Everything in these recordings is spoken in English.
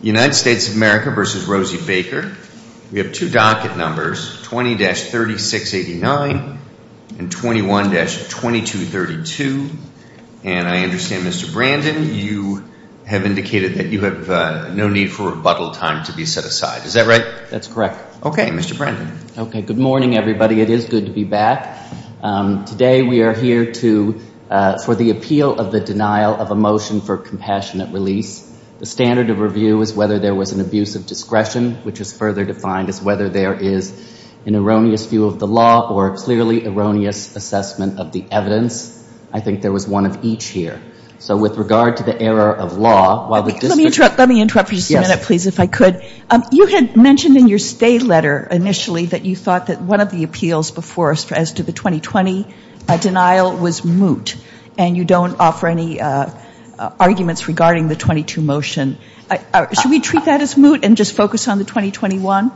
United States of America versus Rosie Baker. We have two docket numbers, 20-3689 and 21-2232, and I understand Mr. Brandon, you have indicated that you have no need for rebuttal time to be set aside. Is that right? That's correct. Okay, Mr. Brandon. Okay, good morning, everybody. It is good to be back. Today we are here for the appeal of the denial of a motion for compassionate release. The standard of review is whether there was an abuse of discretion, which is further defined as whether there is an erroneous view of the law or a clearly erroneous assessment of the evidence. I think there was one of each here. So with regard to the error of law, while the district Let me interrupt for just a minute, please, if I could. You had mentioned in your stay letter initially that you thought that one of the appeals before us as to the 2020 denial was moot, and you don't offer any arguments regarding the 22 motion. Should we treat that as moot and just focus on the 2021?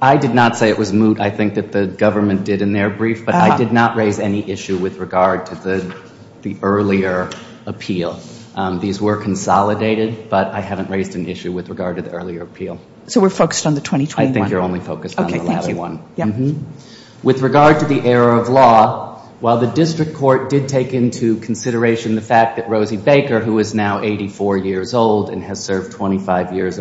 I did not say it was moot. I think that the government did in their brief, but I did not raise any issue with regard to the earlier appeal. These were consolidated, but I haven't raised an issue with regard to the earlier appeal. So we're focused on the 2021? With regard to the error of law, while the district court did take into consideration the fact that Rosie Baker, who is now 84 years old and has served 25 of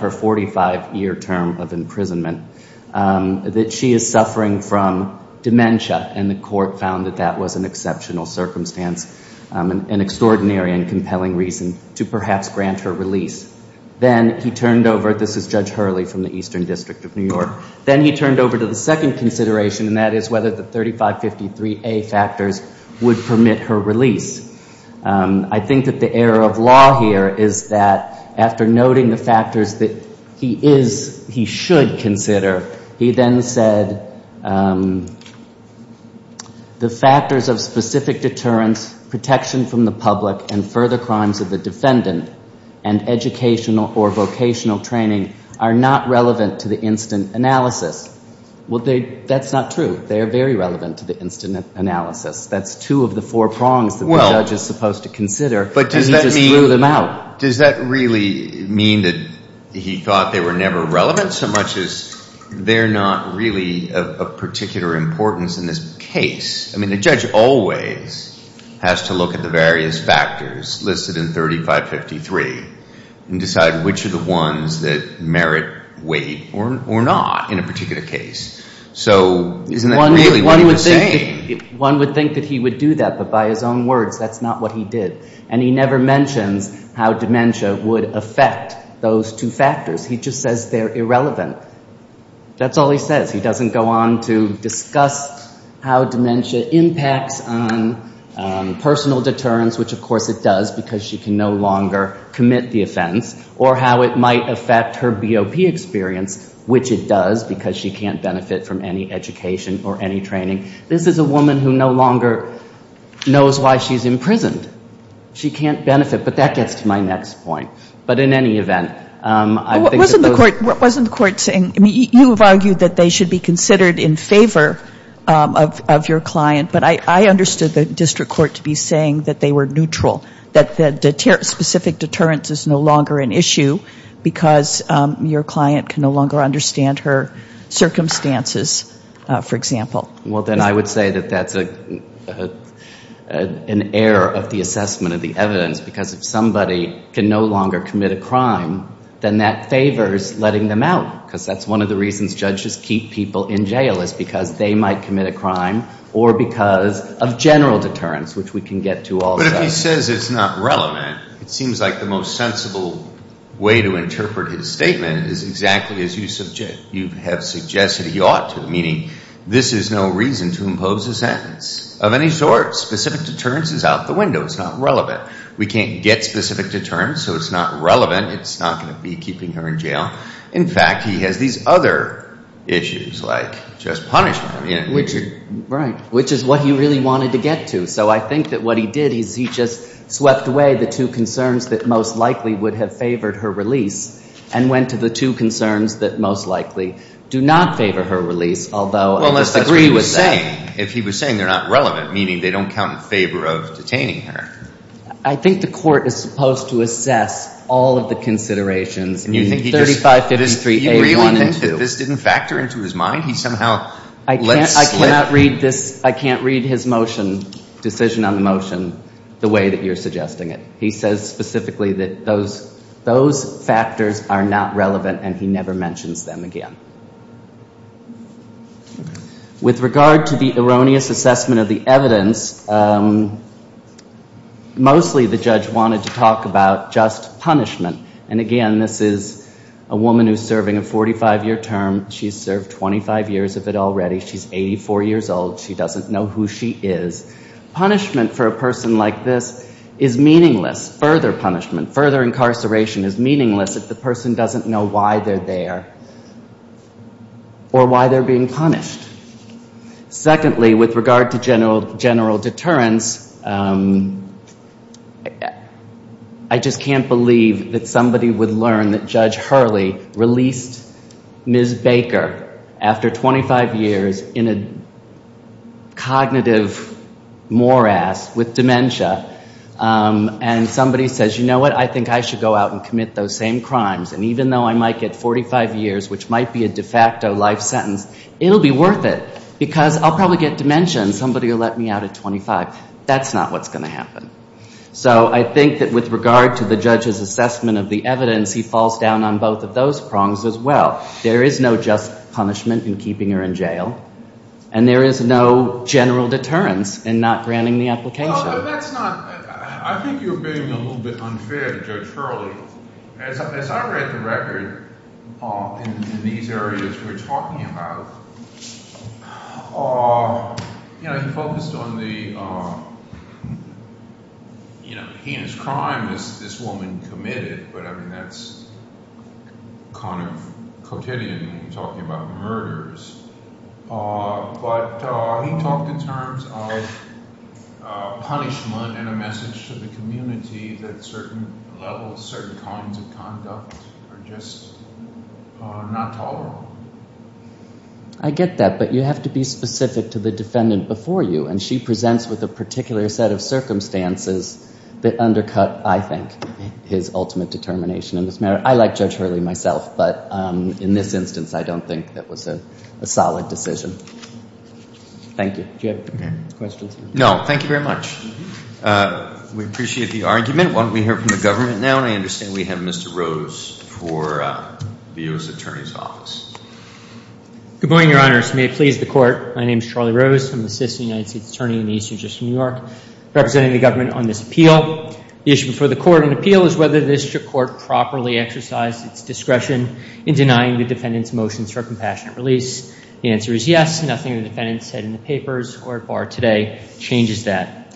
her 45 year term of imprisonment, that she is suffering from dementia, and the court found that that was an exceptional circumstance, an extraordinary and compelling reason to perhaps grant her release. Then he turned over, this is Judge Hurley from the Eastern District of New York, then he turned over to the second consideration, and that is whether the 3553A factors would permit her release. I think that the error of law here is that after noting the factors that he is, he should consider, he then said, the factors of specific deterrence, protection from the public, and further crimes of the defendant, and educational or vocational training are not relevant to the instant analysis. Well, that's not true. They are very relevant to the instant analysis. That's two of the four prongs. That's what the judge is supposed to consider, and he just threw them out. But does that mean, does that really mean that he thought they were never relevant so much as they're not really of particular importance in this case? I mean, the judge always has to look at the various factors listed in 3553 and decide which are the ones that merit weight or not in a particular case. So isn't that really what he was saying? One would think that he would do that, but by his own words, that's not what he did. And he never mentions how dementia would affect those two factors. He just says they're irrelevant. That's all he says. He doesn't go on to discuss how dementia impacts on personal deterrence, which of course it does because she can no longer commit the offense, or how it might affect her BOP experience, which it does because she can't benefit from any education or any training. She's a woman who no longer knows why she's imprisoned. She can't benefit. But that gets to my next point. But in any event, I think that those... Wasn't the court saying, I mean, you have argued that they should be considered in favor of your client, but I understood the district court to be saying that they were neutral. That the specific deterrence is no longer an issue because your client can no longer understand her circumstances, for example. Well, then I would say that that's an error of the assessment of the evidence, because if somebody can no longer commit a crime, then that favors letting them out, because that's one of the reasons judges keep people in jail is because they might commit a crime or because of general deterrence, which we can get to all the time. If he says it's not relevant, it seems like the most sensible way to interpret his statement is exactly as you have suggested he ought to, meaning this is no reason to impose a sentence of any sort. Specific deterrence is out the window. It's not relevant. We can't get specific deterrence, so it's not relevant. It's not going to be keeping her in jail. In fact, he has these other issues, like just punishment. Right, which is what he really wanted to get to, so I think that what he did is he just swept away the two concerns that most likely would have favored her release and went to the two concerns that most likely do not favor her release, although I disagree with that. Well, unless that's what he was saying. If he was saying they're not relevant, meaning they don't count in favor of detaining her. I think the court is supposed to assess all of the considerations, 3553A1 and 2. If this didn't factor into his mind, he somehow let slip. I can't read his motion, decision on the motion, the way that you're suggesting it. He says specifically that those factors are not relevant, and he never mentions them again. With regard to the erroneous assessment of the evidence, mostly the judge wanted to talk about just punishment. And again, this is a woman who's serving a 45-year term. She's served 25 years of it already. She's 84 years old. She doesn't know who she is. Punishment for a person like this is meaningless. Further punishment, further incarceration is meaningless if the person doesn't know why they're there. Or why they're being punished. Secondly, with regard to general deterrence, I just can't believe that somebody would learn that Judge Hurley released Ms. Baker after 25 years in a cognitive morass with dementia. And somebody says, you know what, I think I should go out and commit those same crimes. And even though I might get 45 years, which might be a de facto life sentence, it'll be worth it because I'll probably get dementia and somebody will let me out at 25. That's not what's going to happen. So I think that with regard to the judge's assessment of the evidence, he falls down on both of those prongs as well. There is no just punishment in keeping her in jail, and there is no general deterrence in not granting the application. Well, but that's not – I think you're being a little bit unfair to Judge Hurley. As I read the record in these areas we're talking about, you know, he focused on the heinous crime this woman committed, but I mean that's kind of quotidian talking about murders. But he talked in terms of punishment and a message to the community that certain levels, certain kinds of conduct are just not tolerable. I get that, but you have to be specific to the defendant before you, and she presents with a particular set of circumstances that undercut, I think, his ultimate determination in this matter. I like Judge Hurley myself, but in this instance I don't think that was a solid decision. Thank you. Do you have questions? No. Thank you very much. We appreciate the argument. Why don't we hear from the government now, and I understand we have Mr. Rose for the U.S. Attorney's Office. Good morning, Your Honors. May it please the Court. My name is Charlie Rose. I'm the Assistant United States Attorney in the Eastern District of New York representing the government on this appeal. The issue before the Court in appeal is whether the District Court properly exercised its discretion in denying the defendant's motions for a compassionate release. The answer is yes. Nothing the defendant said in the papers or today changes that.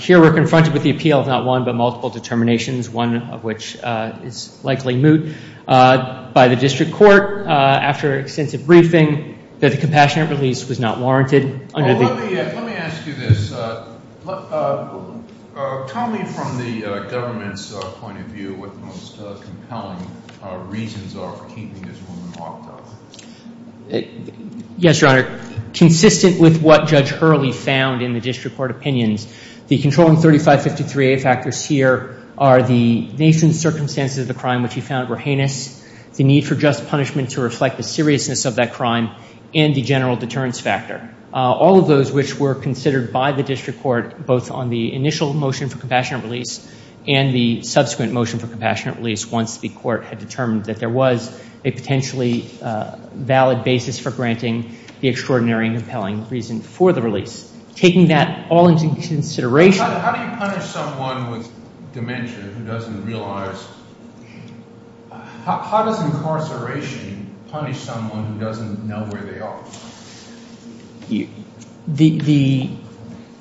Here we're confronted with the appeal of not one, but multiple determinations, one of which is likely moot by the District Court after extensive briefing that the compassionate release was not warranted. Let me ask you this. Tell me from the government's point of view what the most compelling reasons are for keeping this woman locked up. Yes, Your Honor. Consistent with what Judge Hurley found in the District Court opinions, the controlling 3553A factors here are the nation's circumstances of the crime, which he found were heinous, the need for just punishment to reflect the seriousness of that crime, and the general deterrence factor, all of those which were considered by the District Court both on the initial motion for compassionate release and the subsequent motion for compassionate release once the Court had determined that there was a potentially valid basis for granting the extraordinary and compelling reason for the release. How do you punish someone with dementia who doesn't realize? How does incarceration punish someone who doesn't know where they are?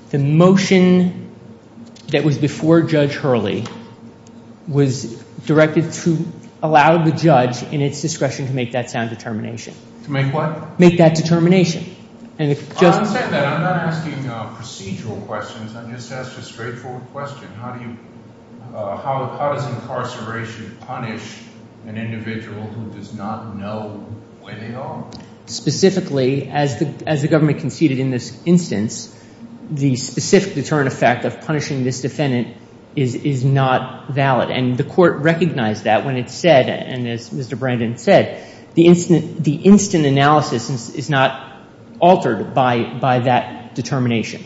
The motion that was before Judge Hurley was directed to allow the judge in its discretion to make that sound determination. To make what? Make that determination. I'm not asking procedural questions. I'm just asking a straightforward question. How does incarceration punish an individual who does not know where they are? Specifically, as the government conceded in this instance, the specific deterrent effect of punishing this defendant is not valid. And the Court recognized that when it said, and as Mr. Brandon said, the instant analysis is not altered by that determination.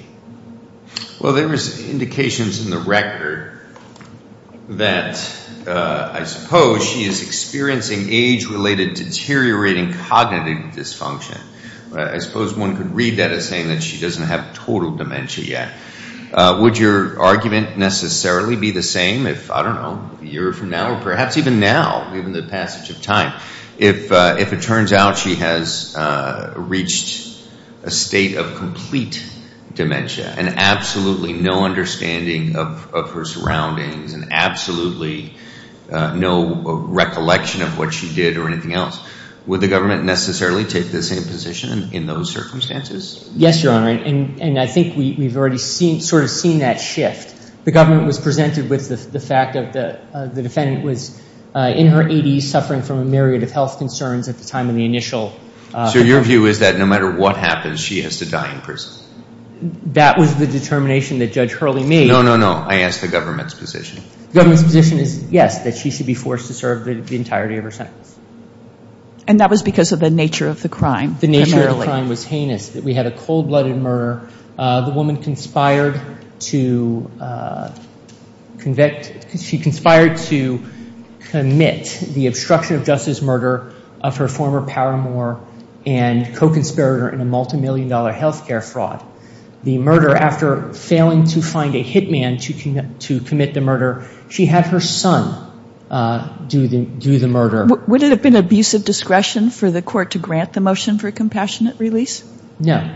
Well, there was indications in the record that I suppose she is experiencing age-related deteriorating cognitive dysfunction. I suppose one could read that as saying that she doesn't have total dementia yet. Would your argument necessarily be the same if, I don't know, a year from now or perhaps even now, given the passage of time, if it turns out she has reached a state of complete dementia and absolutely no understanding of her surroundings and absolutely no recollection of what she did or anything else, would the government necessarily take the same position in those circumstances? Yes, Your Honor. And I think we've already sort of seen that shift. The government was presented with the fact that the defendant was in her 80s, suffering from a myriad of health concerns at the time of the initial... So your view is that no matter what happens, she has to die in prison? That was the determination that Judge Hurley made. No, no, no. I asked the government's position. The government's position is, yes, that she should be forced to serve the entirety of her sentence. And that was because of the nature of the crime. The nature of the crime was heinous. We had a cold-blooded murder. The woman conspired to commit the obstruction of justice murder of her former paramour and co-conspirator in a multimillion-dollar health care fraud. The murder, after failing to find a hitman to commit the murder, she had her son do the murder. Would it have been abusive discretion for the court to grant the motion for a compassionate release? No.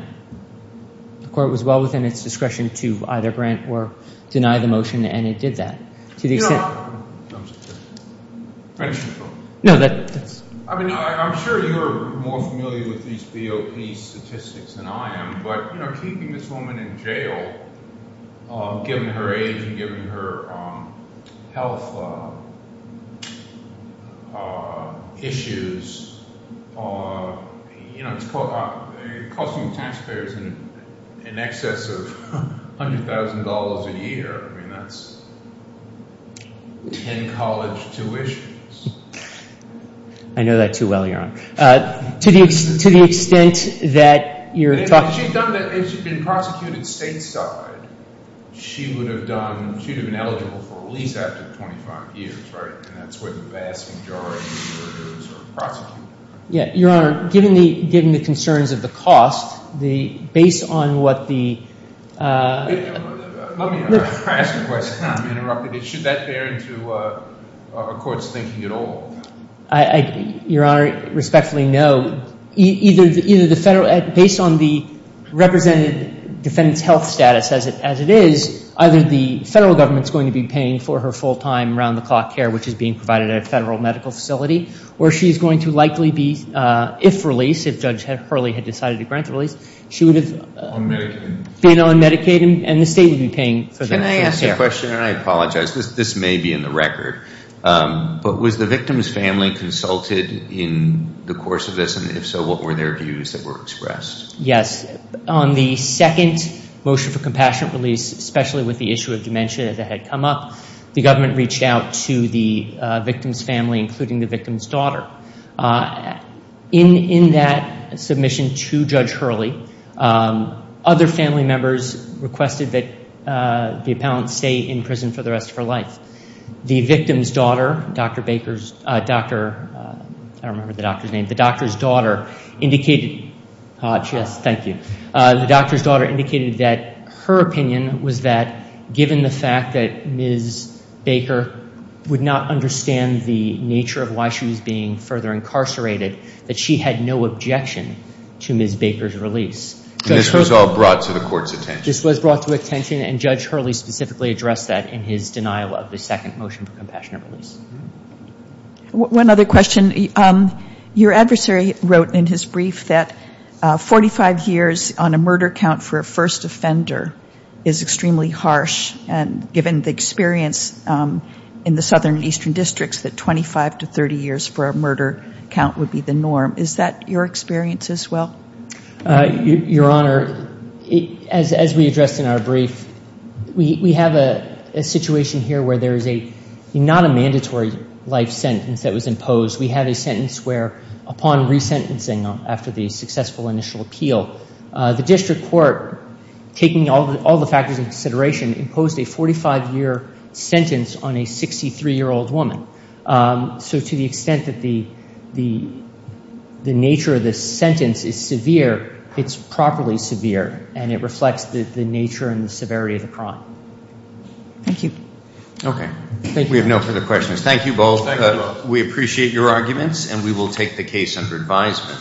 The court was well within its discretion to either grant or deny the motion, and it did that. I'm sure you're more familiar with these BOP statistics than I am, but keeping this woman in jail, given her age and given her health issues, it's costing taxpayers in excess of $100,000 a year. I mean, that's ten college tuitions. I know that too well, Your Honor. To the extent that you're talking— If she'd been prosecuted stateside, she would have been eligible for release after 25 years, right? And that's where the vast majority of the murders are prosecuted. Your Honor, given the concerns of the cost, based on what the— Let me ask a question. Let me interrupt a bit. Should that bear into a court's thinking at all? Your Honor, respectfully, no. Either the federal—based on the represented defendant's health status as it is, either the federal government's going to be paying for her full-time, round-the-clock care, which is being provided at a federal medical facility, or she's going to likely be, if released, if Judge Hurley had decided to grant the release, she would have— On Medicaid. —been on Medicaid, and the state would be paying for that. Can I ask a question? And I apologize. This may be in the record. But was the victim's family consulted in the course of this? And if so, what were their views that were expressed? Yes. On the second motion for compassionate release, especially with the issue of dementia that had come up, the government reached out to the victim's family, including the victim's daughter. In that submission to Judge Hurley, other family members requested that the appellant stay in prison for the rest of her life. The victim's daughter, Dr. Baker's—I don't remember the doctor's name. The doctor's daughter indicated—Hodge, yes, thank you. The doctor's daughter indicated that her opinion was that, given the fact that Ms. Baker would not understand the nature of why she was being further incarcerated, that she had no objection to Ms. Baker's release. And this was all brought to the court's attention. This was brought to attention, and Judge Hurley specifically addressed that in his denial of the second motion for compassionate release. One other question. Your adversary wrote in his brief that 45 years on a murder count for a first offender is extremely harsh, and given the experience in the southern and eastern districts, that 25 to 30 years for a murder count would be the norm. Is that your experience as well? Your Honor, as we addressed in our brief, we have a situation here where there is not a mandatory life sentence that was imposed. We have a sentence where, upon resentencing after the successful initial appeal, the district court, taking all the factors into consideration, imposed a 45-year sentence on a 63-year-old woman. So to the extent that the nature of the sentence is severe, it's properly severe, and it reflects the nature and the severity of the crime. Thank you. Okay. We have no further questions. Thank you both. We appreciate your arguments, and we will take the case under advisement.